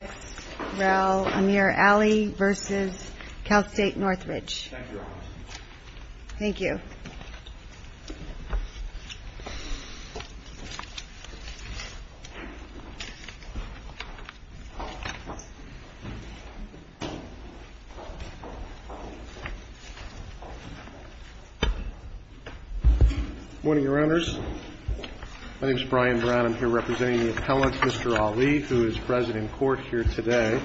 ex rel Amir Ali v. Cal State Northridge. Thank you. Morning, Your Honors. My name is Brian Brown. I'm here representing the appellate, Mr. Ali, who is president in court here today.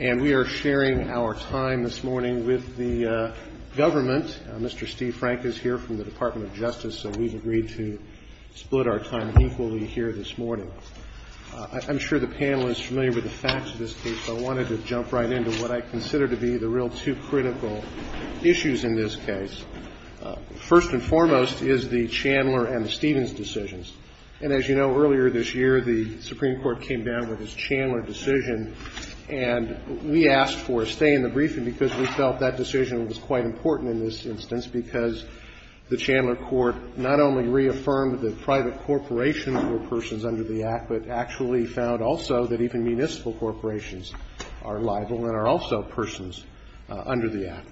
And we are sharing our time this morning with the government. Mr. Steve Frank is here from the Department of Justice, so we've agreed to split our time equally here this morning. I'm sure the panel is familiar with the facts of this case, but I wanted to jump right into what I consider to be the real two critical issues in this case. First and foremost is the Chandler and the Stevens decisions. And as you know, earlier this year, the Supreme Court came down with this Chandler decision, and we asked for a stay in the briefing because we felt that decision was quite important in this instance, because the Chandler court not only reaffirmed that private corporations were persons under the Act, but actually found also that even municipal corporations are liable and are also persons under the Act.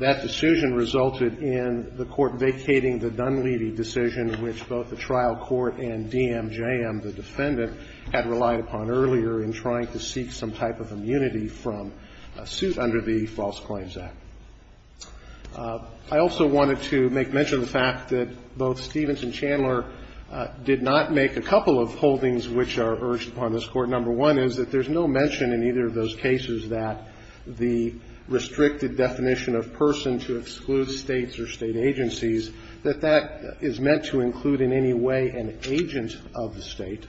That decision resulted in the court vacating the Dunleavy decision, which both the trial court and DMJM, the defendant, had relied upon earlier in trying to seek some type of immunity from a suit under the False Claims Act. I also wanted to make mention of the fact that both Stevens and Chandler did not make a couple of holdings which are urged upon this Court. Number one is that there's no mention in either of those cases that the restricted definition of person to exclude States or State agencies, that that is meant to include in any way an agent of the State.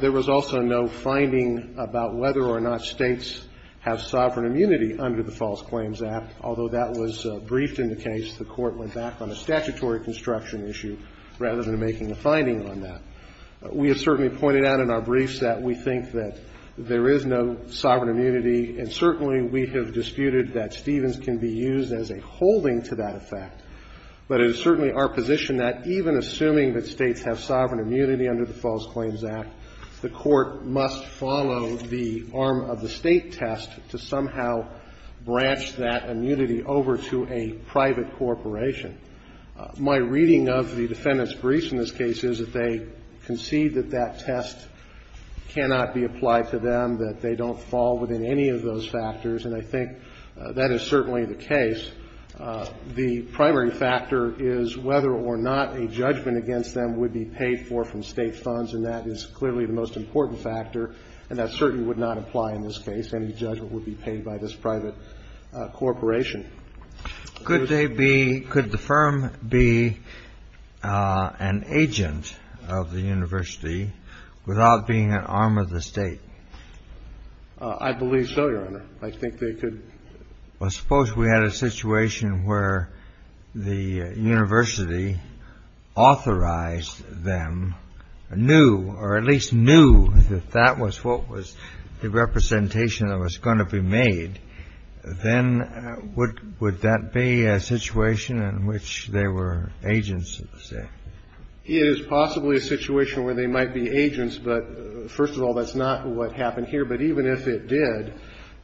There was also no finding about whether or not States have sovereign immunity under the False Claims Act, although that was briefed in the case. The Court went back on a statutory construction issue rather than making a finding on that. We have certainly pointed out in our briefs that we think that there is no sovereign immunity, and certainly we have disputed that Stevens can be used as a holding to that effect. But it is certainly our position that even assuming that States have sovereign immunity under the False Claims Act, the Court must follow the arm of the State test to somehow branch that immunity over to a private corporation. My reading of the defendants' briefs in this case is that they concede that that test cannot be applied to them, that they don't fall within any of those factors. And I think that is certainly the case. The primary factor is whether or not a judgment against them would be paid for from State funds, and that is clearly the most important factor, and that certainly would not apply in this case. Any judgment would be paid by this private corporation. Could they be, could the firm be an agent of the university without being an arm of the State? I believe so, Your Honor. I think they could. Well, suppose we had a situation where the university authorized them, knew, or at least knew that that was what was the representation that was going to be made, then would that be a situation in which they were agents of the State? It is possibly a situation where they might be agents, but first of all, that's not what happened here. But even if it did,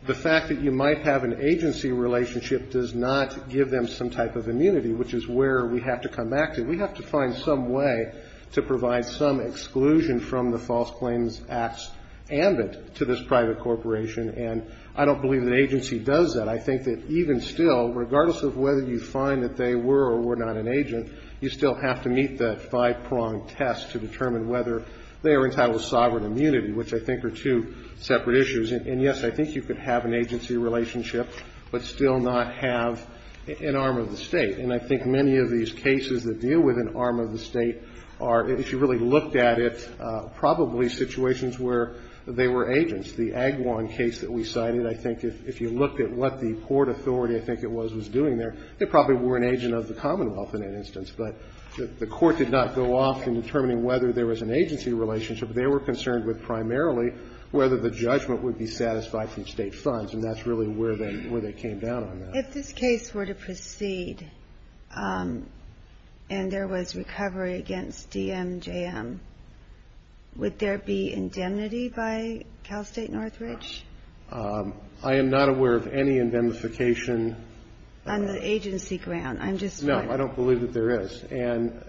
the fact that you might have an agency relationship does not give them some type of immunity, which is where we have to come back to. We have to find some way to provide some exclusion from the False Claims Act's ambit to this private corporation, and I don't believe an agency does that. I think that even still, regardless of whether you find that they were or were not an agent, you still have to meet that five-pronged test to determine whether they are entitled to sovereign immunity, which I think are two separate issues. And, yes, I think you could have an agency relationship, but still not have an arm of the State. And I think many of these cases that deal with an arm of the State are, if you really looked at it, probably situations where they were agents. The Agwan case that we cited, I think if you looked at what the Port Authority, I think it was, was doing there, they probably were an agent of the Commonwealth in that instance. But the Court did not go off in determining whether there was an agency relationship. They were concerned with primarily whether the judgment would be satisfied through State funds, and that's really where they came down on that. If this case were to proceed and there was recovery against DMJM, would there be indemnity by Cal State Northridge? I am not aware of any indemnification. On the agency ground? I'm just wondering. No. I don't believe that there is. And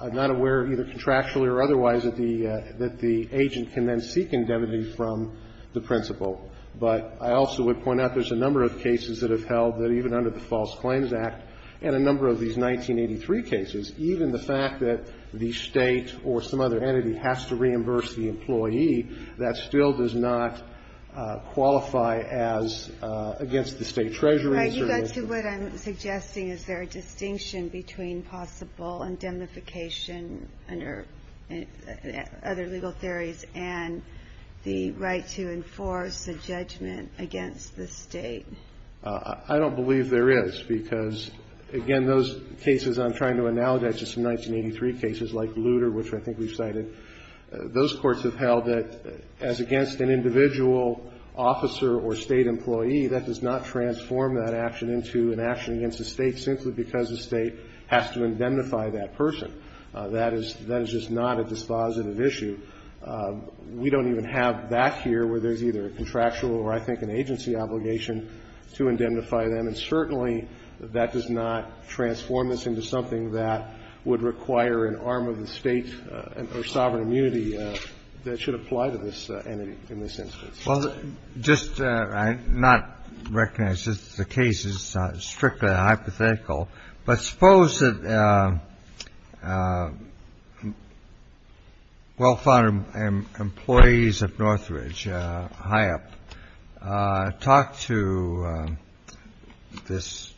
I'm not aware, either contractually or otherwise, that the agent can then seek indemnity from the principal. But I also would point out there's a number of cases that have held that even under the False Claims Act and a number of these 1983 cases, even the fact that the State or some other entity has to reimburse the employee, that still does not qualify as against the State treasuries. All right. You got to what I'm suggesting. Is there a distinction between possible indemnification under other legal theories and the right to enforce a judgment against the State? I don't believe there is because, again, those cases I'm trying to analogize to some 1983 cases like Luder, which I think we've cited, those courts have held that as against an individual officer or State employee, that does not transform that action into an action against the State simply because the State has to indemnify that person. That is just not a dispositive issue. We don't even have that here where there's either a contractual or, I think, an agency obligation to indemnify them. And certainly, that does not transform this into something that would require an arm of the State or sovereign immunity that should apply to this entity in this instance. Well, just I not recognize that the case is strictly hypothetical. But suppose that well-founded employees of Northridge, high up, talked to this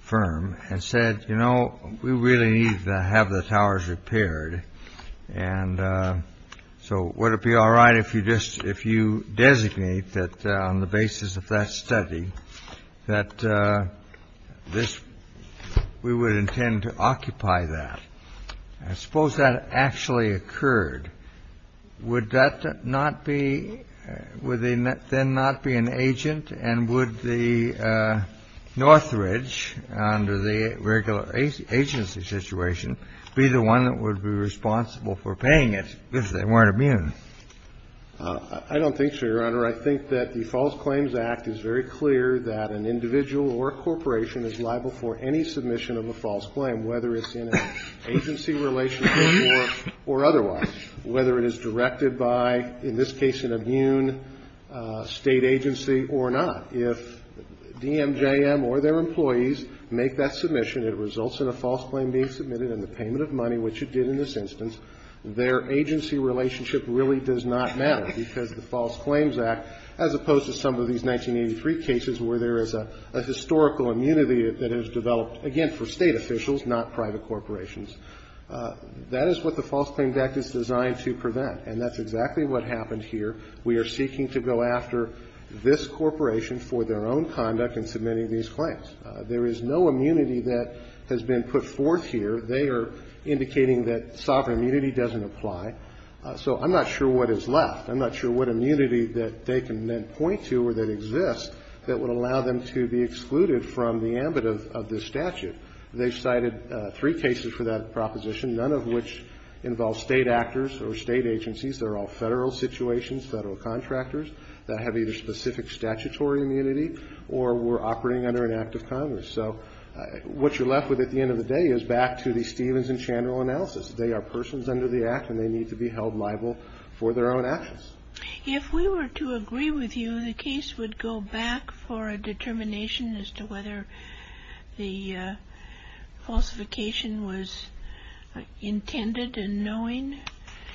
firm and said, you know, we really need to have the towers repaired. And so would it be all right if you designate that on the basis of that study that this, we would intend to occupy that? Suppose that actually occurred. Would that not be, would they then not be an agent? And would the Northridge, under the regular agency situation, be the one that would be responsible for paying it if they weren't immune? I don't think so, Your Honor. I think that the False Claims Act is very clear that an individual or a corporation is liable for any submission of a false claim, whether it's in an agency relationship or otherwise. Whether it is directed by, in this case, an immune State agency or not. If DMJM or their employees make that submission, it results in a false claim being submitted and the payment of money, which it did in this instance. Their agency relationship really does not matter, because the False Claims Act, as opposed to some of these 1983 cases where there is a historical immunity that has developed, again, for State officials, not private corporations. That is what the False Claims Act is designed to prevent. And that's exactly what happened here. We are seeking to go after this corporation for their own conduct in submitting these claims. There is no immunity that has been put forth here. They are indicating that sovereign immunity doesn't apply. So I'm not sure what is left. I'm not sure what immunity that they can then point to or that exists that would allow them to be excluded from the ambit of this statute. They cited three cases for that proposition, none of which involve State actors or State agencies. They're all Federal situations, Federal contractors that have either specific statutory immunity or were operating under an act of Congress. So what you're left with at the end of the day is back to the Stevens and Chandler analysis. They are persons under the act, and they need to be held liable for their own actions. If we were to agree with you, the case would go back for a determination as to whether the falsification was intended in knowing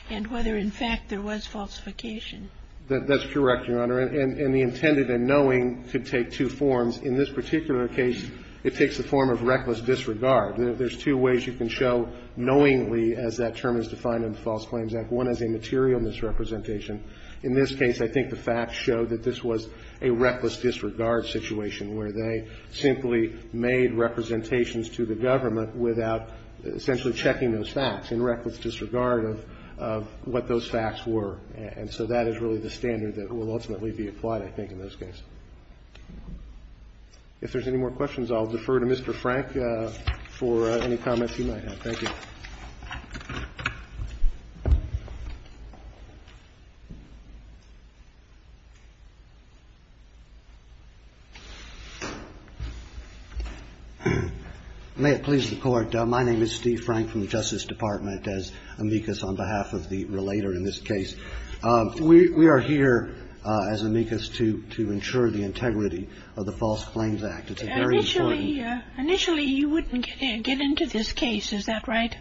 and whether, in fact, there was falsification. That's correct, Your Honor. And the intended and knowing could take two forms. In this particular case, it takes the form of reckless disregard. There's two ways you can show knowingly, as that term is defined in the False Claims Act. One is a material misrepresentation. In this case, I think the facts show that this was a reckless disregard situation where they simply made representations to the government without essentially checking those facts in reckless disregard of what those facts were. And so that is really the standard that will ultimately be applied, I think, in this case. If there's any more questions, I'll defer to Mr. Frank for any comments he might have. Thank you. May it please the Court. My name is Steve Frank from the Justice Department, as amicus on behalf of the relator in this case. We are here as amicus to ensure the integrity of the False Claims Act. It's a very important case. Initially, you wouldn't get into this case. Is that right?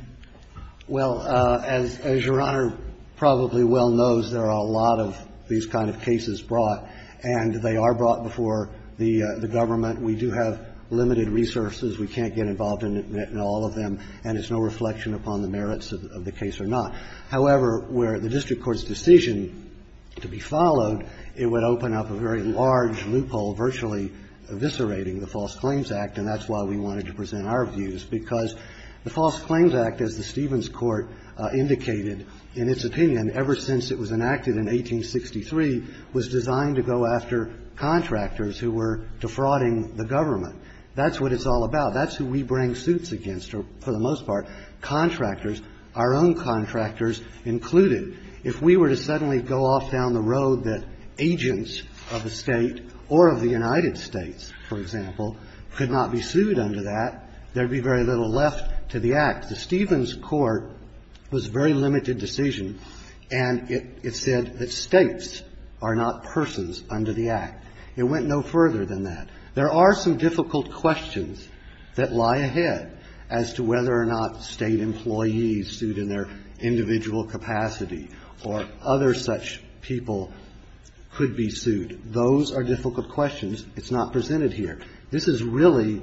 Well, as Your Honor probably well knows, there are a lot of these kind of cases brought, and they are brought before the government. We do have limited resources. We can't get involved in all of them, and it's no reflection upon the merits of the case or not. However, were the district court's decision to be followed, it would open up a very large loophole virtually eviscerating the False Claims Act, and that's why we wanted to present our views. Because the False Claims Act, as the Stevens Court indicated in its opinion ever since it was enacted in 1863, was designed to go after contractors who were defrauding the government. That's what it's all about. That's who we bring suits against, for the most part, contractors, our own contractors included. If we were to suddenly go off down the road that agents of the State or of the United States, for example, could not be sued under that, there'd be very little left to the Act. The Stevens Court was a very limited decision, and it said that States are not persons under the Act. It went no further than that. There are some difficult questions that lie ahead as to whether or not State employees sued in their individual capacity or other such people could be sued. Those are difficult questions. It's not presented here. This is really,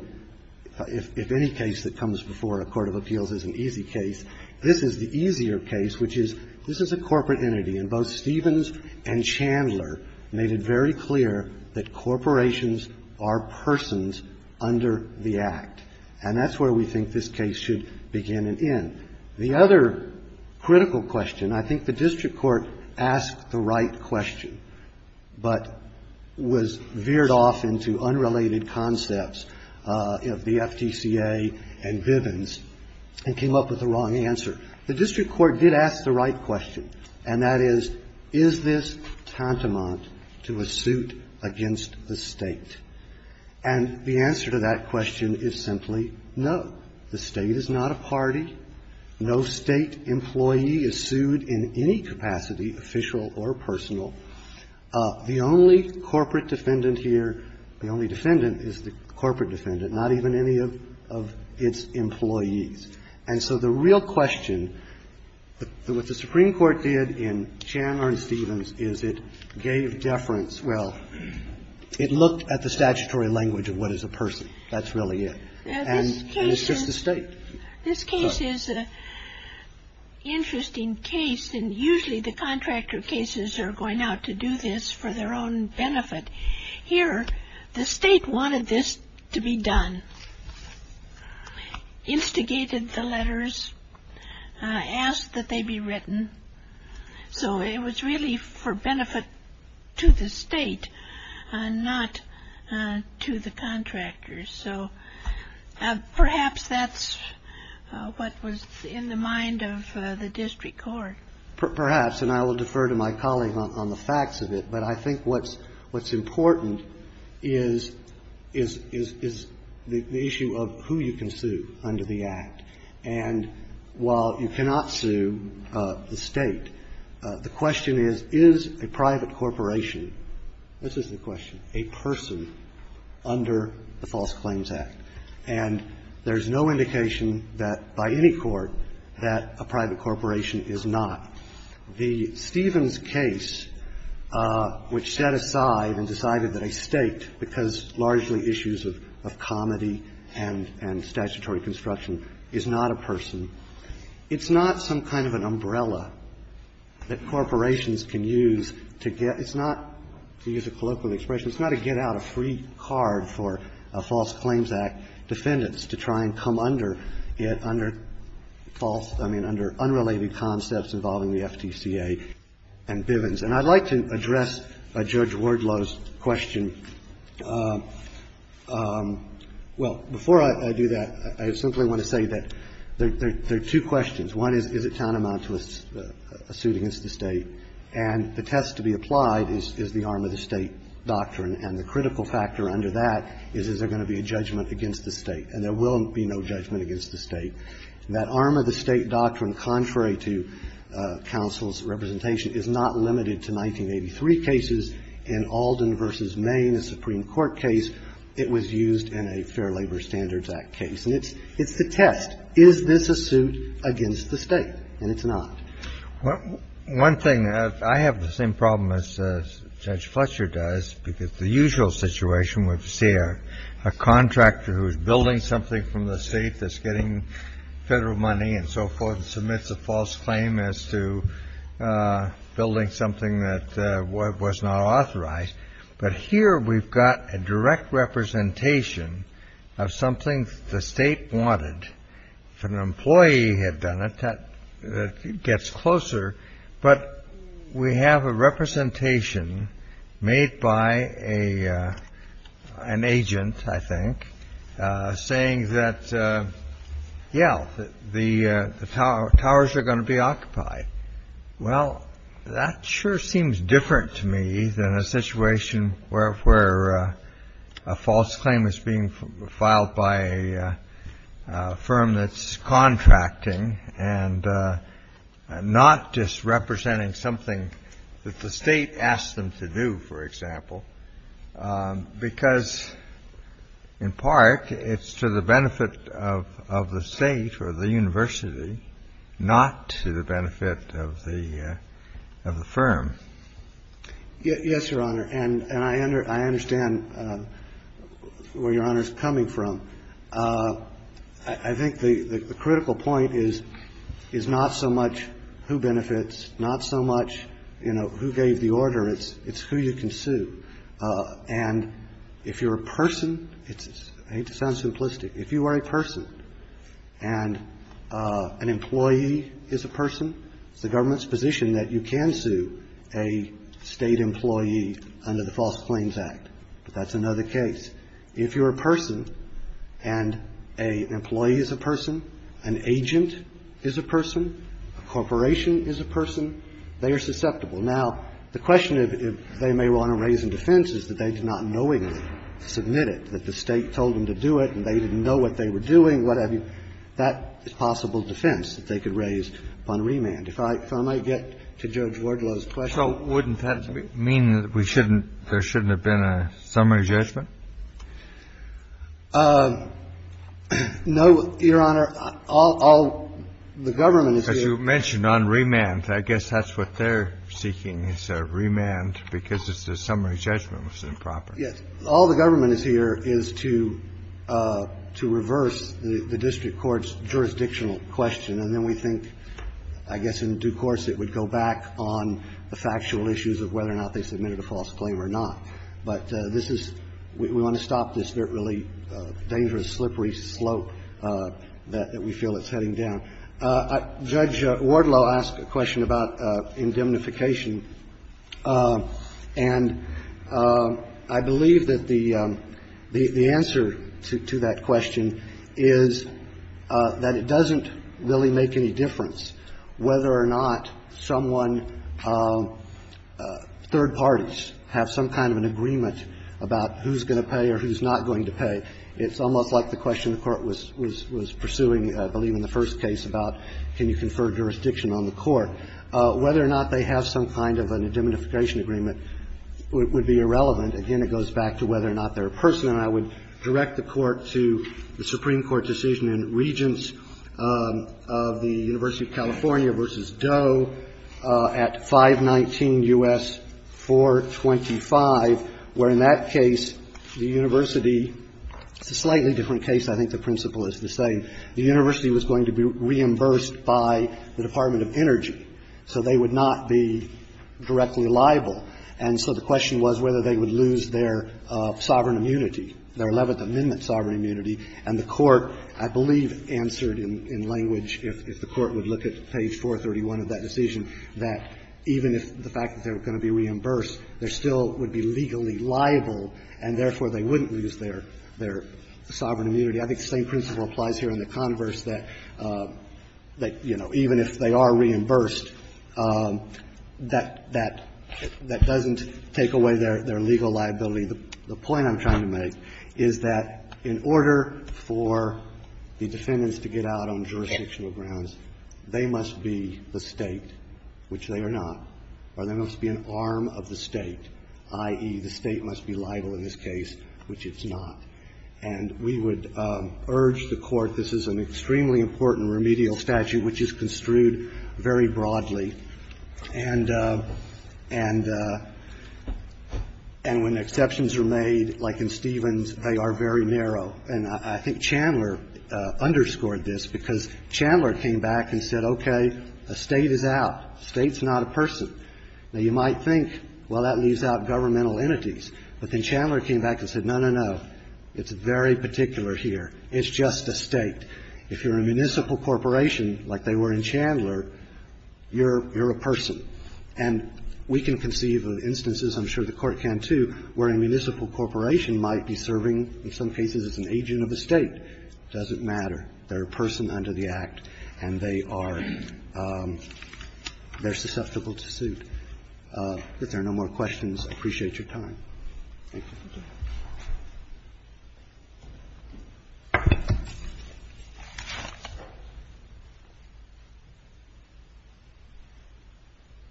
if any case that comes before a court of appeals is an easy case, this is the easier case, which is this is a corporate entity, and both Stevens and Chandler made it very clear that corporations are persons under the Act. And that's where we think this case should begin and end. The other critical question, I think the district court asked the right question, but was veered off into unrelated concepts of the FTCA and Bivens and came up with the wrong answer. The district court did ask the right question, and that is, is this tantamount to a suit against the State? And the answer to that question is simply no. The State is not a party. No State employee is sued in any capacity, official or personal. The only corporate defendant here, the only defendant is the corporate defendant, not even any of its employees. And so the real question, what the Supreme Court did in Chandler and Stevens is it gave deference. It gave deference to the State. It gave deference to the State as well. It looked at the statutory language of what is a person. That's really it. And it's just the State. This case is an interesting case. And usually the contractor cases are going out to do this for their own benefit. Here, the State wanted this to be done, instigated the letters, asked that they be written. So it was really for benefit to the State and not to the contractors. So perhaps that's what was in the mind of the district court. Perhaps, and I will defer to my colleague on the facts of it, but I think what's important is the issue of who you can sue under the Act. And while you cannot sue the State, the question is, is a private corporation – this is the question – a person under the False Claims Act? And there's no indication that by any court that a private corporation is not. The Stevens case, which set aside and decided that a State, because largely issues of comedy and statutory construction, is not a person, it's not some kind of an umbrella that corporations can use to get – it's not, to use a colloquial expression, it's not a get-out-of-free-card-for-False-Claims-Act defendants to try and come under it under false – I mean, under unrelated concepts involving the FTCA and Bivens. And I'd like to address Judge Wardlow's question. Well, before I do that, I simply want to say that there are two questions. One is, is it tantamount to a suit against the State? And the test to be applied is the arm-of-the-State doctrine, and the critical factor under that is, is there going to be a judgment against the State? And there will be no judgment against the State. That arm-of-the-State doctrine, contrary to counsel's representation, is not limited to 1983 cases. In Alden v. Maine, a Supreme Court case, it was used in a Fair Labor Standards Act case. And it's the test. Is this a suit against the State? And it's not. One thing – I have the same problem as Judge Fletcher does, because the usual situation would be to see a contractor who's building something from the State that's getting Federal money and so forth and submits a false claim as to building something that was not authorized. But here we've got a direct representation of something the State wanted. If an employee had done it, that gets closer. But we have a representation made by an agent, I think, saying that, yeah, the towers are going to be occupied. Well, that sure seems different to me than a situation where a false claim is being filed by a firm that's contracting and not just representing something that the State asked them to do, for example, because, in part, it's to the benefit of the State or the university, not to the benefit of the firm. Yes, Your Honor. And I understand where Your Honor is coming from. I think the critical point is not so much who benefits, not so much, you know, who gave the order. It's who you can sue. And if you're a person – I hate to sound simplistic. If you are a person and an employee is a person, it's the government's position that you can sue a State employee under the False Claims Act. But that's another case. If you're a person and an employee is a person, an agent is a person, a corporation is a person, they are susceptible. Now, the question they may want to raise in defense is that they did not knowingly submit it, that the State told them to do it and they didn't know what they were doing, what have you. That is possible defense that they could raise upon remand. If I might get to Judge Wardlow's question. So wouldn't that mean that we shouldn't – there shouldn't have been a summary judgment? No, Your Honor. All the government is here. As you mentioned, on remand. I guess that's what they're seeking is a remand because the summary judgment was improper. All the government is here is to reverse the district court's jurisdictional question. And then we think, I guess in due course, it would go back on the factual issues of whether or not they submitted a false claim or not. But this is – we want to stop this really dangerous, slippery slope that we feel it's heading down. Judge Wardlow asked a question about indemnification. And I believe that the answer to that question is that it doesn't, it doesn't really make any difference whether or not someone – third parties have some kind of an agreement about who's going to pay or who's not going to pay. It's almost like the question the Court was pursuing, I believe, in the first case about can you confer jurisdiction on the court. Whether or not they have some kind of an indemnification agreement would be irrelevant. Again, it goes back to whether or not they're a person. And I would direct the Court to the Supreme Court decision in Regents of the University of California v. Doe at 519 U.S. 425, where in that case, the university – it's a slightly different case. I think the principle is the same. The university was going to be reimbursed by the Department of Energy. So they would not be directly liable. And so the question was whether they would lose their sovereign immunity, their Eleventh Amendment sovereign immunity. And the Court, I believe, answered in language, if the Court would look at page 431 of that decision, that even if the fact that they were going to be reimbursed, they still would be legally liable, and therefore, they wouldn't lose their – their sovereign immunity. I think the same principle applies here in the converse, that, you know, even if they are reimbursed, that – that – that doesn't take away their – their legal liability. The point I'm trying to make is that in order for the defendants to get out on jurisdictional grounds, they must be the State, which they are not, or they must be an arm of the State, i.e., the State must be liable in this case, which it's not. And we would urge the Court – this is an extremely important remedial statute in this country, which is construed very broadly. And – and when exceptions are made, like in Stevens, they are very narrow. And I think Chandler underscored this, because Chandler came back and said, okay, a State is out. The State's not a person. Now, you might think, well, that leaves out governmental entities. But then Chandler came back and said, no, no, no. It's very particular here. It's just a State. If you're a municipal corporation, like they were in Chandler, you're – you're a person. And we can conceive of instances, I'm sure the Court can too, where a municipal corporation might be serving, in some cases, as an agent of the State. It doesn't matter. They're a person under the Act, and they are – they're susceptible to suit. If there are no more questions, I appreciate your time. Thank you.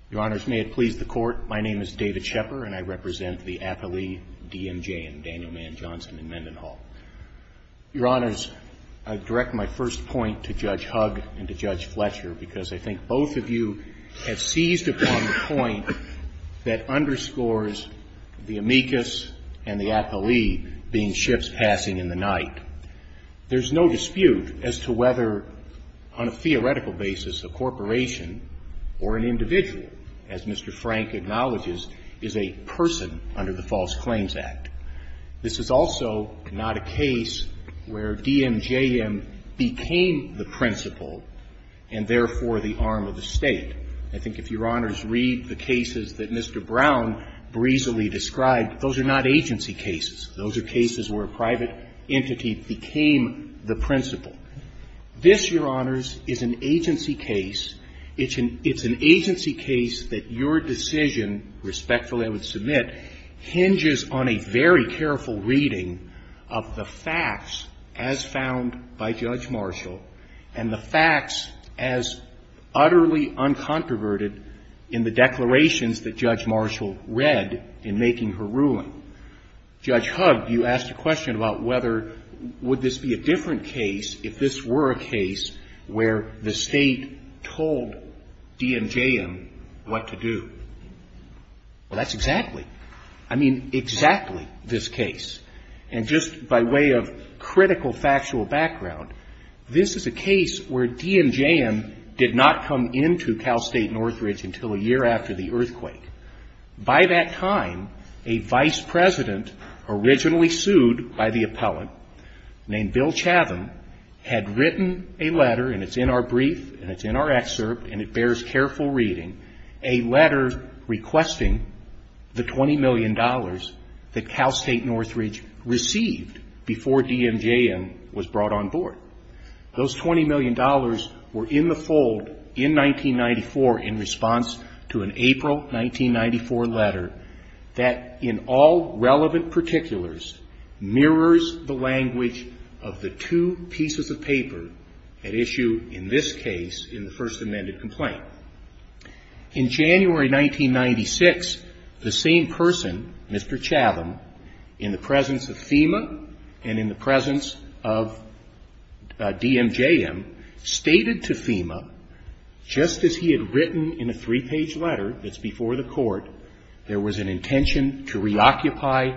Your Honors, may it please the Court, my name is David Shepherd, and I represent the affilee DMJ in Daniel Mann Johnson and Mendenhall. Your Honors, I direct my first point to Judge Hugg and to Judge Fletcher, because I think both of you have seized upon the point that underscores the amicus and the affilee being ships passing in the night. There's no dispute as to whether, on a theoretical basis, a corporation or an individual, as Mr. Frank acknowledges, is a person under the False Claims Act. This is also not a case where DMJM became the principle and therefore the arm of the State. I think if Your Honors read the cases that Mr. Brown breezily described, those are not agency cases. Those are cases where a private entity became the principle. This, Your Honors, is an agency case. It's an agency case that your decision, respectfully I would submit, hinges on a very careful reading of the facts as found by Judge Marshall and the facts as utterly uncontroverted in the declarations that Judge Marshall read in making her ruling. Judge Hugg, you asked a question about whether would this be a different case if this were a case where the State told DMJM what to do. Well, that's exactly, I mean, exactly this case. And just by way of critical factual background, this is a case where DMJM did not come into Cal State Northridge until a year after the earthquake. By that time, a vice president originally sued by the appellant named Bill Chavin had written a letter, and it's in our brief and it's in our excerpt and it bears careful reading, a letter requesting the $20 million that Cal State Northridge received before DMJM was brought on board. Those $20 million were in the fold in 1994 in response to an April 1994 letter that in all relevant particulars mirrors the language of the two pieces of paper at issue in this case in the first amended complaint. In January 1996, the same person, Mr. Chavin, in the presence of FEMA and in the presence of DMJM stated to FEMA just as he had written in a three-page letter that's before the court, there was an intention to reoccupy,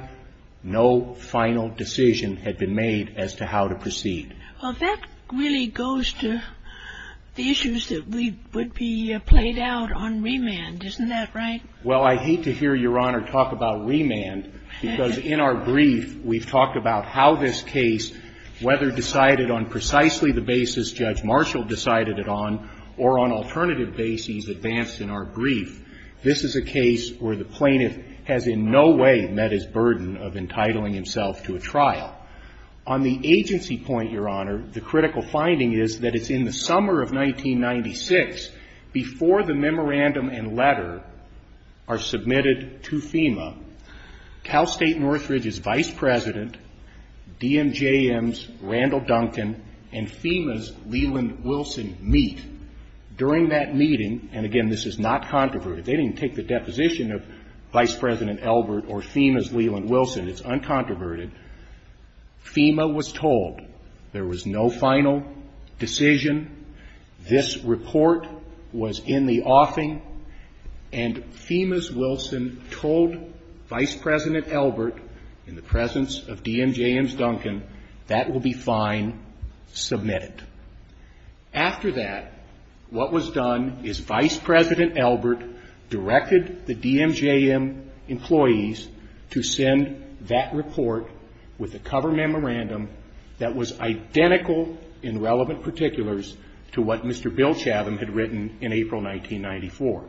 no final decision had been made as to how to proceed. Well, that really goes to the issues that would be played out on remand. Isn't that right? Well, I hate to hear Your Honor talk about remand because in our brief we've talked about how this case, whether decided on precisely the basis Judge Marshall decided it on or on alternative bases advanced in our brief, this is a case where the plaintiff has in no way met his burden of entitling himself to a trial. On the agency point, Your Honor, the critical finding is that it's in the summer of 1996 before the memorandum and letter are submitted to FEMA, Cal State Northridge's Vice President, DMJM's Randall Duncan and FEMA's Leland Wilson meet. During that meeting, and again this is not controverted, they didn't take the deposition of Vice President Elbert or FEMA's Leland Wilson, it's uncontroverted, FEMA was told there was no final decision, this report was in the offing, and FEMA's Wilson told Vice President Elbert, in the presence of DMJM's Duncan, that will be fine, submit it. After that, what was done is Vice President Elbert directed the DMJM employees to send that report with a cover memorandum that was identical in relevant particulars to what Mr. Bill Chatham had written in April 1994.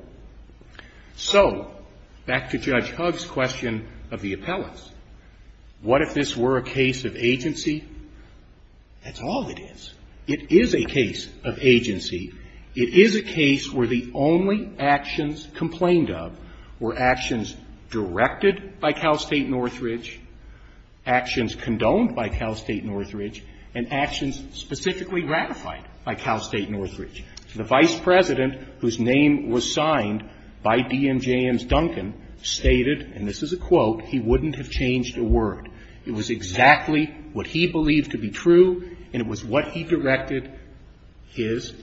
So, back to Judge Hugg's question of the appellants, what if this were a case of agency? That's all it is. It is a case of agency. It is a case where the only actions complained of were actions directed by Cal State Northridge, actions condoned by Cal State Northridge, and actions specifically ratified by Cal State Northridge. The Vice President, whose name was signed by DMJM's Duncan, stated, and this is a quote, he wouldn't have changed a word. It was exactly what he believed to be true, and it was what he directed his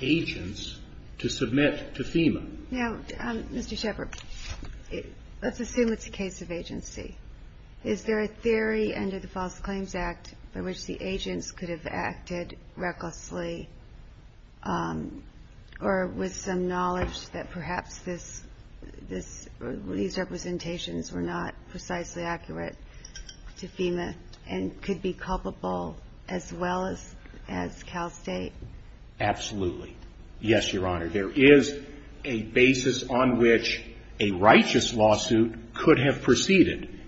agents to submit to FEMA. Now, Mr. Shepard, let's assume it's a case of agency. Is there a theory under the False Claims Act by which the agents could have acted recklessly or with some knowledge that perhaps these representations were not precisely accurate to FEMA and could be culpable as well as Cal State? Absolutely. Yes, Your Honor. There is a basis on which a righteous lawsuit could have proceeded.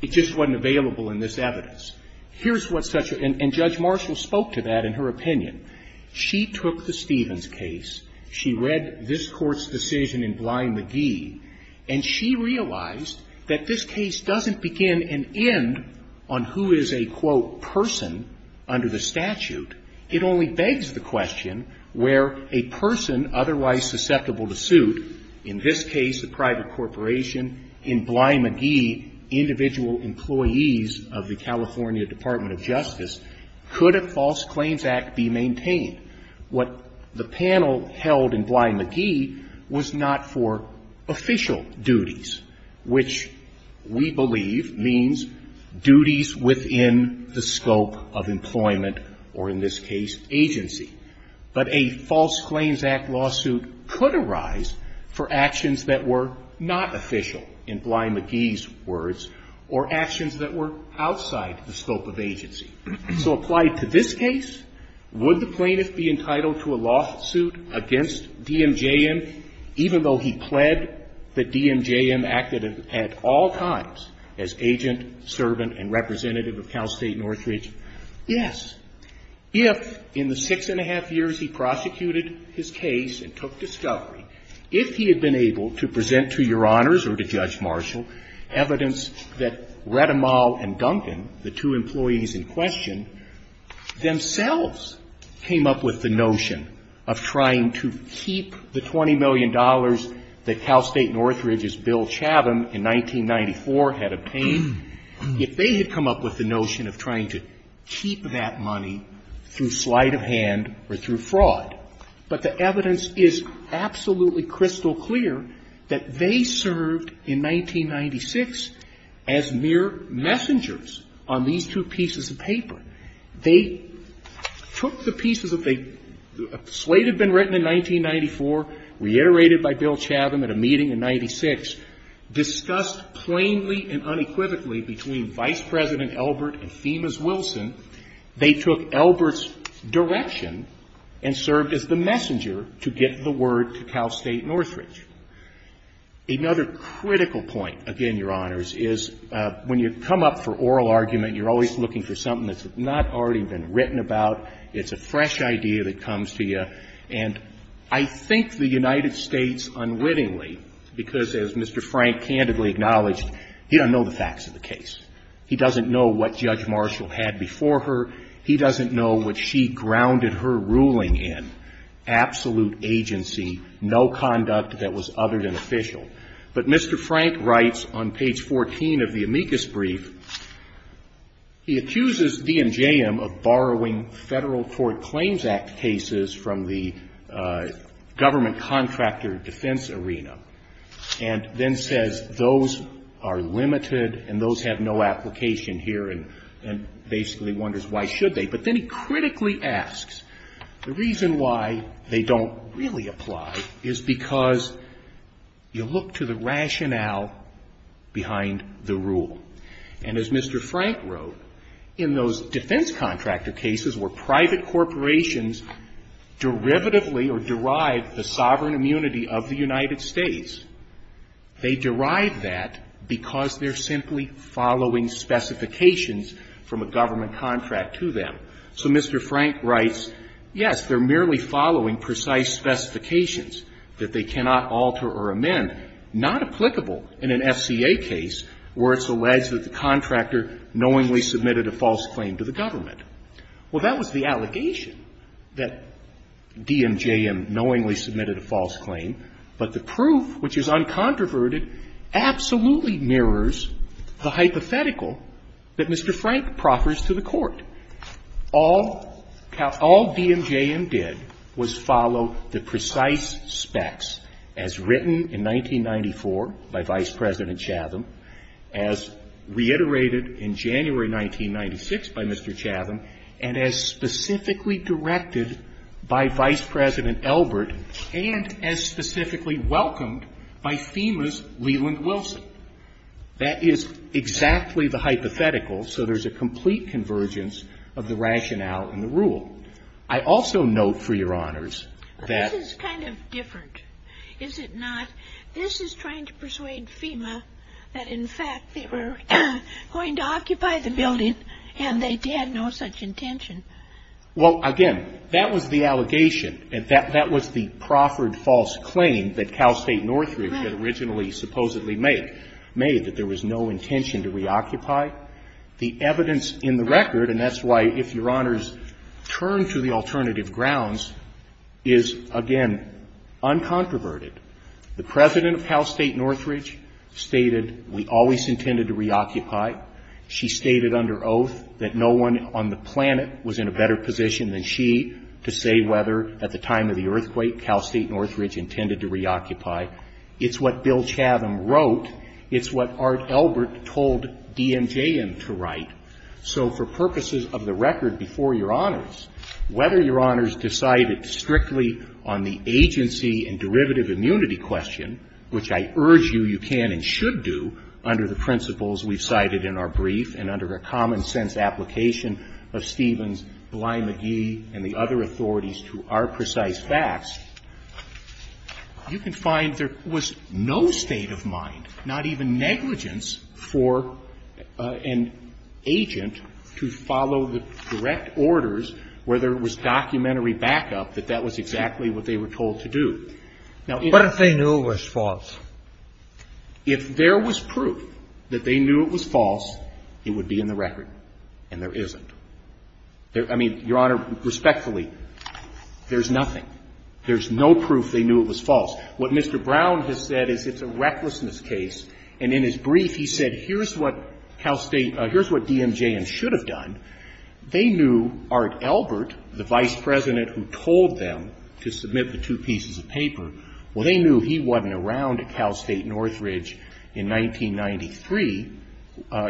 It just wasn't available in this evidence. Here's what such a – and Judge Marshall spoke to that in her opinion. She took the Stevens case. She read this Court's decision in Bly-McGee, and she realized that this case doesn't begin and end on who is a, quote, person under the statute. It only begs the question where a person otherwise susceptible to suit, in this case a private corporation, in Bly-McGee, individual employees of the California Department of Justice, could a False Claims Act be maintained? What the panel held in Bly-McGee was not for official duties, which we believe means duties within the scope of employment or, in this case, agency. But a False Claims Act lawsuit could arise for actions that were not official, in Bly-McGee's words, or actions that were outside the scope of agency. So applied to this case, would the plaintiff be entitled to a lawsuit against DMJM even though he pled that DMJM acted at all times as agent, servant, and representative of Cal State Northridge? Yes. If, in the six and a half years he prosecuted his case and took discovery, if he had been able to present to Your Honors or to Judge Marshall evidence that Rademal and Duncan, the two employees in question, themselves came up with the notion of trying to keep the $20 million that Cal State Northridge's Bill Chatham in 1994 had obtained. If they had come up with the notion of trying to keep that money through sleight of hand or through fraud. But the evidence is absolutely crystal clear that they served in 1996 as mere messengers on these two pieces of paper. They took the pieces of the – a slate had been written in 1994, reiterated by Bill Chatham at a meeting in 96, discussed plainly and unequivocally between Vice President Elbert and Femas Wilson. They took Elbert's direction and served as the messenger to get the word to Cal State Northridge. Another critical point, again, Your Honors, is when you come up for oral argument, you're always looking for something that's not already been written about. It's a fresh idea that comes to you. And I think the United States unwittingly, because as Mr. Frank candidly acknowledged, he doesn't know the facts of the case. He doesn't know what Judge Marshall had before her. He doesn't know what she grounded her ruling in, absolute agency, no conduct that was other than official. But Mr. Frank writes on page 14 of the amicus brief, he accuses D&JM of borrowing Federal Court Claims Act cases from the government contractor defense arena, and then says, those are limited and those have no application here, and basically wonders why should they. But then he critically asks, the reason why they don't really apply is because you look to the rationale behind the rule. And as Mr. Frank wrote, in those defense contractor cases where private corporations derivatively or derive the sovereign immunity of the United States, they derive that because they're simply following specifications from a government contract to them. So Mr. Frank writes, yes, they're merely following precise specifications that they cannot alter or amend, not applicable in an FCA case where it's alleged that the contractor knowingly submitted a false claim to the government. Well, that was the allegation, that D&JM knowingly submitted a false claim, but the proof, which is uncontroverted, absolutely mirrors the hypothetical that Mr. Frank proffers to the Court. All D&JM did was follow the precise specs as written in 1994 by Vice President Chatham, as reiterated in January 1996 by Mr. Chatham, and as specifically directed by Vice President Elbert, and as specifically welcomed by FEMA's Leland Wilson. That is exactly the hypothetical, so there's a complete convergence of the rationale and the rule. I also note, for Your Honors, that ---- that, in fact, they were going to occupy the building, and they had no such intention. Well, again, that was the allegation, and that was the proffered false claim that Cal State Northridge had originally supposedly made, that there was no intention to reoccupy. The evidence in the record, and that's why, if Your Honors turn to the alternative grounds, is, again, uncontroverted. The President of Cal State Northridge stated, we always intended to reoccupy. She stated under oath that no one on the planet was in a better position than she to say whether, at the time of the earthquake, Cal State Northridge intended to reoccupy. It's what Bill Chatham wrote. It's what Art Elbert told D&JM to write. So for purposes of the record before Your Honors, whether Your Honors decided strictly on the agency and derivative immunity question, which I urge you you can and should do under the principles we've cited in our brief and under a common-sense application of Stevens, Bly-McGee, and the other authorities to our precise facts, you can find there was no state of mind, not even negligence, for an agent to follow the direct orders where there was documentary backup, that that was exactly the case. That was exactly what they were told to do. Now, if they knew it was false. If there was proof that they knew it was false, it would be in the record. And there isn't. I mean, Your Honor, respectfully, there's nothing. There's no proof they knew it was false. What Mr. Brown has said is it's a recklessness case. And in his brief, he said, here's what Cal State, here's what D&JM should have done. They knew Art Elbert, the vice president who told them to submit the two pieces of paper, well, they knew he wasn't around at Cal State Northridge in 1993,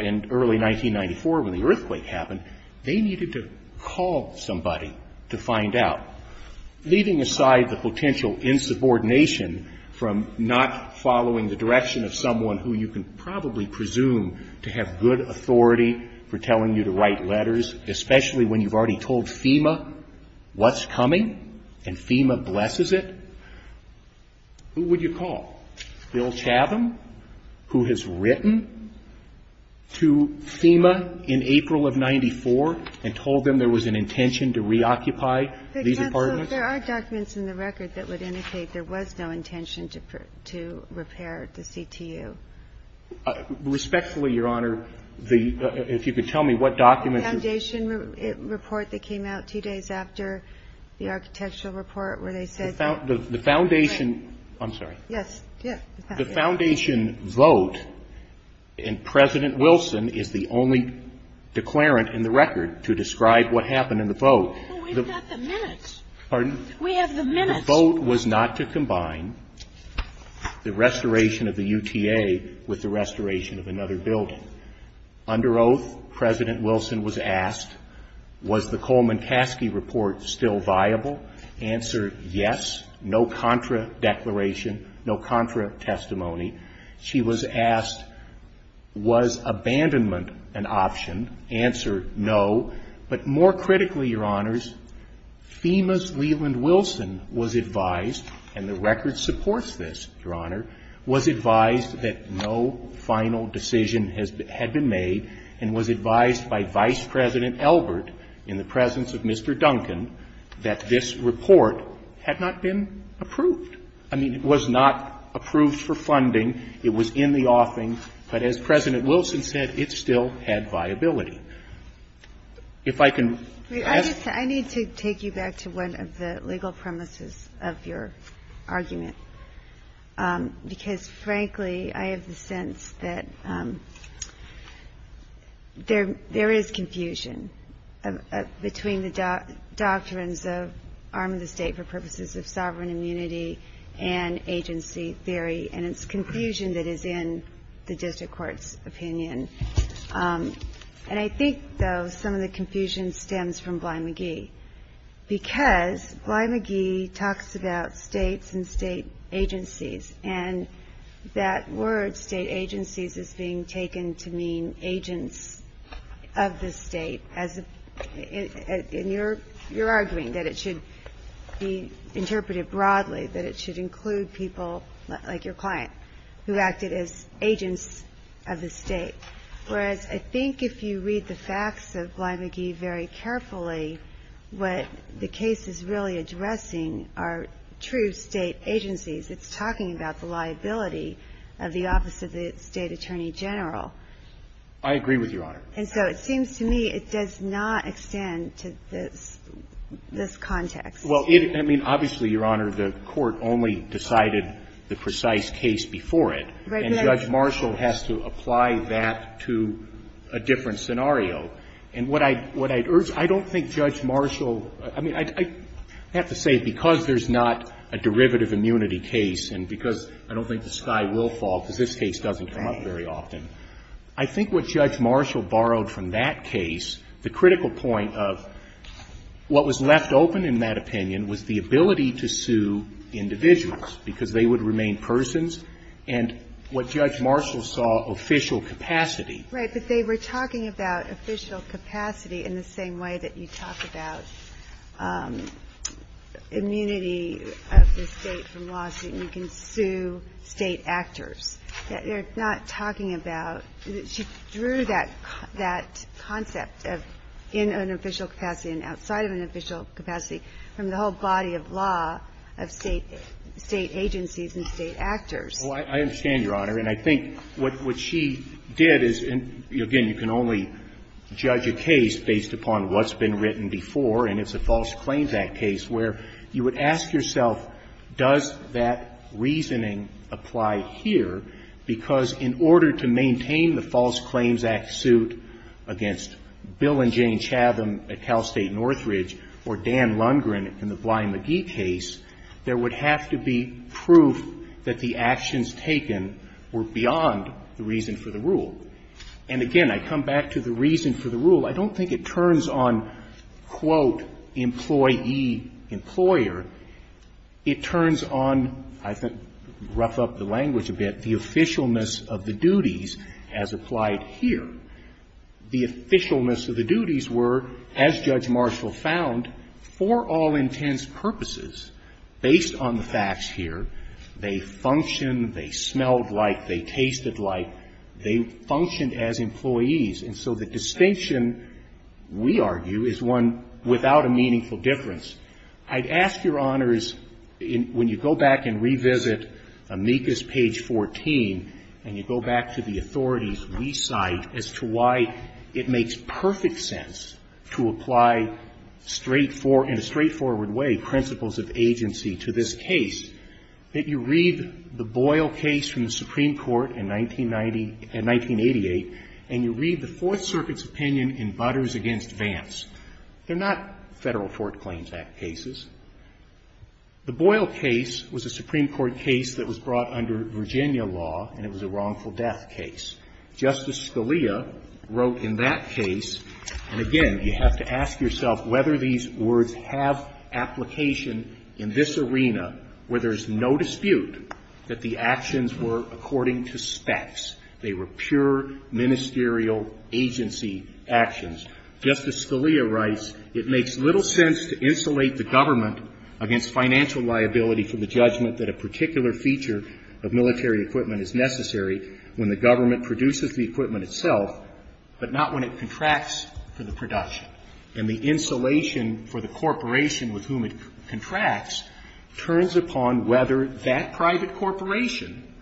in early 1994 when the earthquake happened. They needed to call somebody to find out. Leaving aside the potential insubordination from not following the direction of someone who you can probably presume to have good authority for telling you to write letters, especially when you've already told FEMA what's coming and FEMA blesses it, who would you call? Bill Chatham, who has written to FEMA in April of 94 and told them there was an intention to reoccupy these apartments? There are documents in the record that would indicate there was no intention to repair the CTU. Respectfully, Your Honor, if you could tell me what documents... The foundation report that came out two days after the architectural report where they said... The foundation... I'm sorry. Yes. The foundation vote and President Wilson is the only declarant in the record to describe what happened in the vote. We've got the minutes. Pardon? We have the minutes. Your vote was not to combine the restoration of the UTA with the restoration of another building. Under oath, President Wilson was asked, was the Coleman-Kaske report still viable? Answer, yes. No contra declaration, no contra testimony. She was asked, was abandonment an option? Answer, no. But more critically, Your Honors, FEMA's Leland Wilson was advised, and the record supports this, Your Honor, was advised that no final decision had been made and was advised by Vice President Elbert in the presence of Mr. Duncan that this report had not been approved. I mean, it was not approved for funding. It was in the offing. But as President Wilson said, it still had viability. If I can ask... I need to take you back to one of the legal premises of your argument because, frankly, I have the sense that there is confusion between the doctrines of arm of the state for purposes of sovereign immunity and agency theory, and it's confusion that is in the district court's opinion. And I think, though, some of the confusion stems from Bly McGee because Bly McGee talks about states and state agencies, and that word, state agencies, is being taken to mean agents of the state. And you're arguing that it should be interpreted broadly, that it should include people like your client who acted as agents of the state, whereas I think if you read the facts of Bly McGee very carefully, what the case is really addressing are true state agencies. It's talking about the liability of the Office of the State Attorney General. I agree with you, Your Honor. And so it seems to me it does not extend to this context. Well, I mean, obviously, Your Honor, the Court only decided the precise case before it, and Judge Marshall has to apply that to a different scenario. And what I'd urge you to do, I don't think Judge Marshall – I mean, I have to say because there's not a derivative immunity case and because I don't think the sky will I think what Judge Marshall borrowed from that case, the critical point of what was left open in that opinion was the ability to sue individuals because they would remain persons. And what Judge Marshall saw, official capacity. Right. But they were talking about official capacity in the same way that you talk about immunity of the State from lawsuit. You can sue State actors. You're not talking about – she drew that concept of in an official capacity and outside of an official capacity from the whole body of law of State agencies and State actors. Well, I understand, Your Honor. And I think what she did is – and again, you can only judge a case based upon what's been written before, and it's a False Claims Act case where you would ask yourself, does that reasoning apply here, because in order to maintain the False Claims Act suit against Bill and Jane Chatham at Cal State Northridge or Dan Lundgren in the Bly McGee case, there would have to be proof that the actions taken were beyond the reason for the rule. And again, I come back to the reason for the rule. I don't think it turns on, quote, employee, employer. It turns on, I think, rough up the language a bit, the officialness of the duties as applied here. The officialness of the duties were, as Judge Marshall found, for all intents purposes, based on the facts here, they function, they smelled like, they tasted like, they functioned as employees. And so the distinction, we argue, is one without a meaningful difference. I'd ask Your Honors, when you go back and revisit amicus page 14, and you go back to the authorities we cite as to why it makes perfect sense to apply straightforward – in a straightforward way, principles of agency to this case, that you read the Boyle case from the Supreme Court in 1980 – in 1988, and you read the Fourth Circuit's opinion in Butters v. Vance. They're not Federal Court Claims Act cases. The Boyle case was a Supreme Court case that was brought under Virginia law, and it was a wrongful death case. Justice Scalia wrote in that case, and again, you have to ask yourself whether these words have application in this arena, where there's no dispute that the actions were according to specs. They were pure ministerial agency actions. Justice Scalia writes, It makes little sense to insulate the government against financial liability for the judgment that a particular feature of military equipment is necessary when the government produces the equipment itself, but not when it contracts for the production. And the insulation for the corporation with whom it contracts turns upon whether that private corporation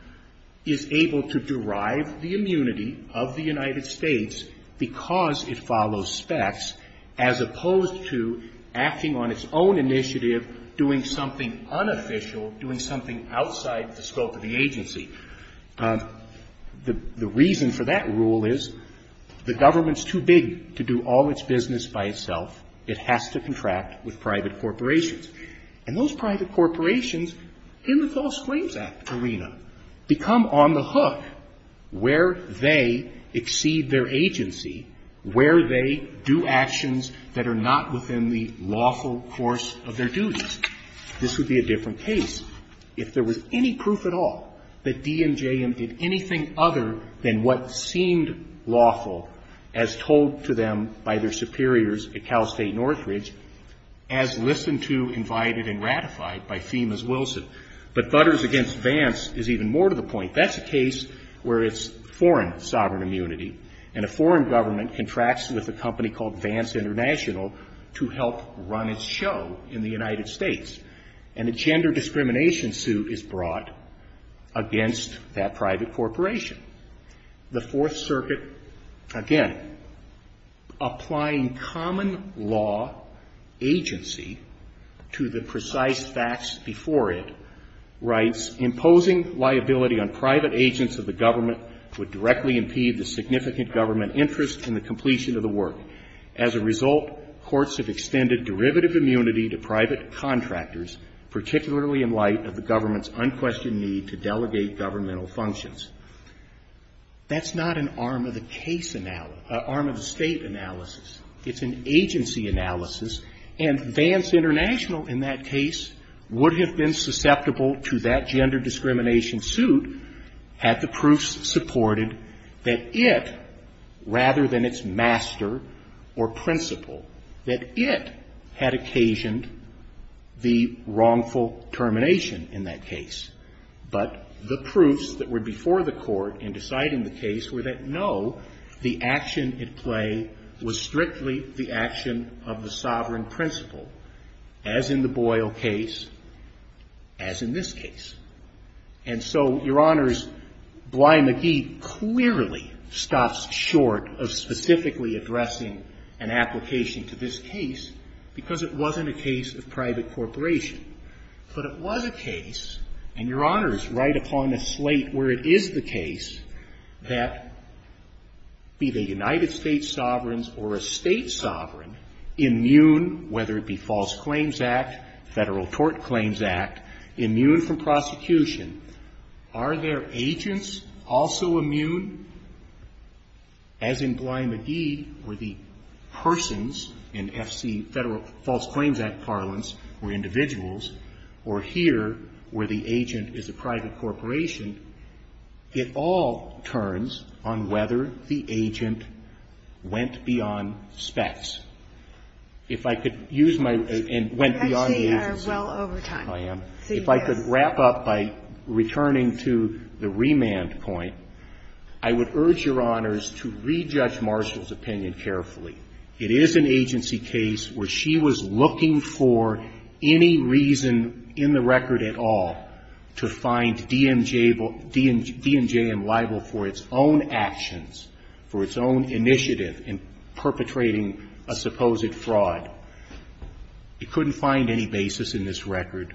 is able to derive the immunity of the United States because it follows specs, as opposed to acting on its own initiative, doing something unofficial, doing something outside the scope of the agency. The reason for that rule is the government's too big to do all its business by itself. It has to contract with private corporations. And those private corporations, in the False Claims Act arena, become on the hook where they exceed their agency, where they do actions that are not within the lawful course of their duties. This would be a different case if there was any proof at all that D&JM did anything other than what seemed lawful as told to them by their superiors at Cal State Northridge, as listened to, invited, and ratified by FEMA's Wilson. But Butters against Vance is even more to the point. That's a case where it's foreign sovereign immunity, and a foreign government contracts with a company called Vance International to help run its show in the United States. And a gender discrimination suit is brought against that private corporation. The Fourth Circuit, again, applying common law agency to the precise facts before it, writes, Imposing liability on private agents of the government would directly impede the significant government interest in the completion of the work. As a result, courts have extended derivative immunity to private contractors, particularly in light of the government's unquestioned need to delegate governmental functions. That's not an arm-of-the-case analysis, arm-of-the-state analysis. It's an agency analysis, and Vance International in that case would have been susceptible to that gender discrimination suit had the proofs supported that it, rather than its master or principle, that it had occasioned the wrongful termination in that case. But the proofs that were before the Court in deciding the case were that, no, the action at play was strictly the action of the sovereign principle, as in the Boyle case, as in this case. And so, Your Honors, Bly McGee clearly stops short of specifically addressing an application to this case because it wasn't a case of private corporation. But it was a case, and Your Honors write upon a slate where it is the case, that be they United States sovereigns or a State sovereign, immune, whether it be False Claims Act, Federal Tort Claims Act, immune from prosecution, are their agents also immune, as in Bly McGee, where the persons in F.C. Federal False Claims Act parlance were individuals, or here, where the agent is a private corporation, it all turns on whether the agent went beyond specs. If I could use my region and went beyond the agency. Kagan, I see you are well over time. I am. If I could wrap up by returning to the remand point, I would urge Your Honors to rejudge Marshall's opinion carefully. It is an agency case where she was looking for any reason in the record at all to find DMJ and libel for its own actions, for its own initiative in perpetrating a supposed fraud. It couldn't find any basis in this record.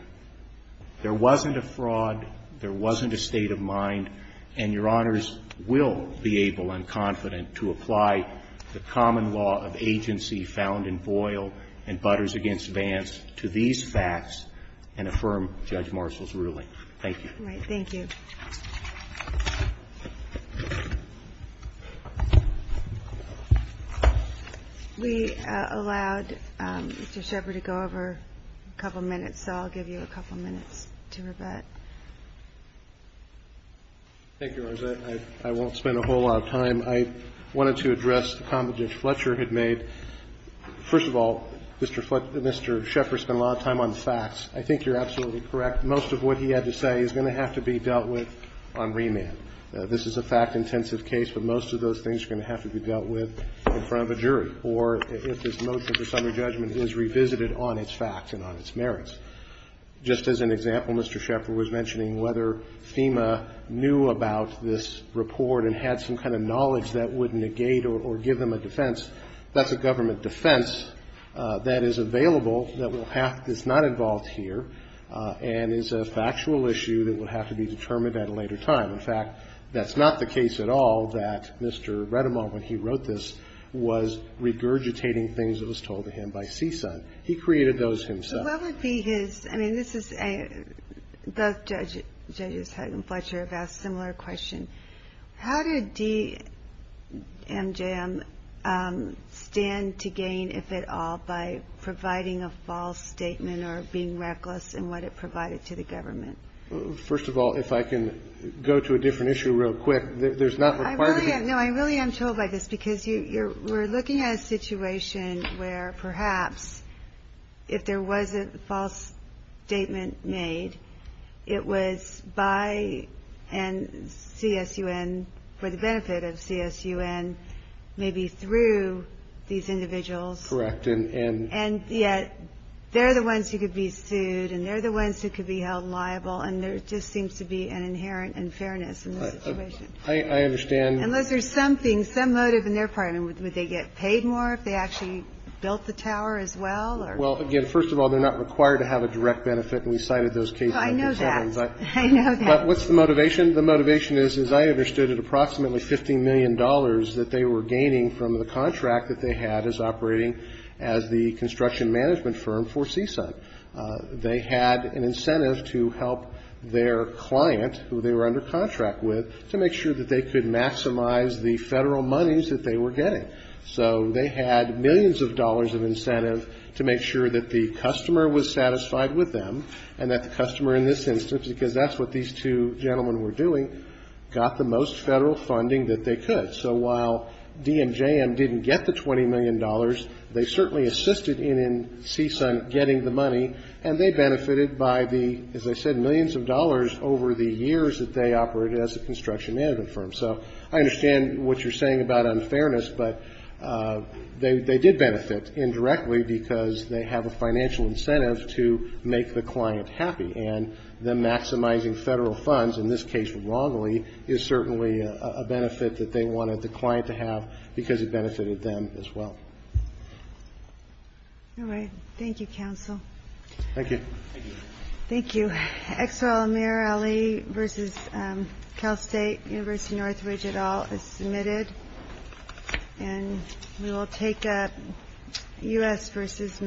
There wasn't a fraud. There wasn't a state of mind. And Your Honors will be able and confident to apply the common law of agency found in Boyle and Butters v. Vance to these facts and affirm Judge Marshall's ruling. Thank you. All right. Thank you. We allowed Mr. Shepard to go over a couple of minutes, so I'll give you a couple of minutes to rebut. Thank you, Your Honors. I won't spend a whole lot of time. I wanted to address the comment that Fletcher had made. First of all, Mr. Shepard spent a lot of time on the facts. I think you're absolutely correct. Most of what he had to say is going to have to be dealt with on remand. This is a fact-intensive case, but most of those things are going to have to be dealt with in front of a jury or if this motion for summary judgment is revisited on its facts and on its merits. Just as an example, Mr. Shepard was mentioning whether FEMA knew about this report and had some kind of knowledge that would negate or give them a defense. That's a government defense that is available that is not involved here and is a factual issue that would have to be determined at a later time. In fact, that's not the case at all that Mr. Redemont, when he wrote this, was regurgitating things that was told to him by CSUN. He created those himself. What would be his – I mean, this is a – both Judges Hagan and Fletcher have asked a similar question. How did DMJM stand to gain, if at all, by providing a false statement or being reckless in what it provided to the government? First of all, if I can go to a different issue real quick. There's not required to be – No, I really am told by this because you're – we're looking at a situation where perhaps if there was a false statement made, it was by and CSUN, for the benefit of CSUN, maybe through these individuals. Correct. And yet they're the ones who could be sued and they're the ones who could be held liable, and there just seems to be an inherent unfairness in this situation. I understand. Unless there's something, some motive in their part. I mean, would they get paid more if they actually built the tower as well? Well, again, first of all, they're not required to have a direct benefit, and we cited those cases. I know that. I know that. But what's the motivation? The motivation is, as I understood it, approximately $15 million that they were gaining from the contract that they had as operating as the construction management firm for CSUN. They had an incentive to help their client, who they were under contract with, to make sure that they could maximize the federal monies that they were getting. So they had millions of dollars of incentive to make sure that the customer was satisfied with them, and that the customer in this instance, because that's what these two gentlemen were doing, got the most federal funding that they could. So while DMJM didn't get the $20 million, they certainly assisted in CSUN getting the money, and they benefited by the, as I said, millions of dollars over the years that they were operating as a construction management firm. So I understand what you're saying about unfairness, but they did benefit indirectly because they have a financial incentive to make the client happy. And them maximizing federal funds, in this case wrongly, is certainly a benefit that they wanted the client to have because it benefited them as well. All right. Thank you, counsel. Thank you. Thank you. So, Exel Amir Ali versus Cal State University-Northridge, et al., is submitted. And we will take a U.S. versus Medina.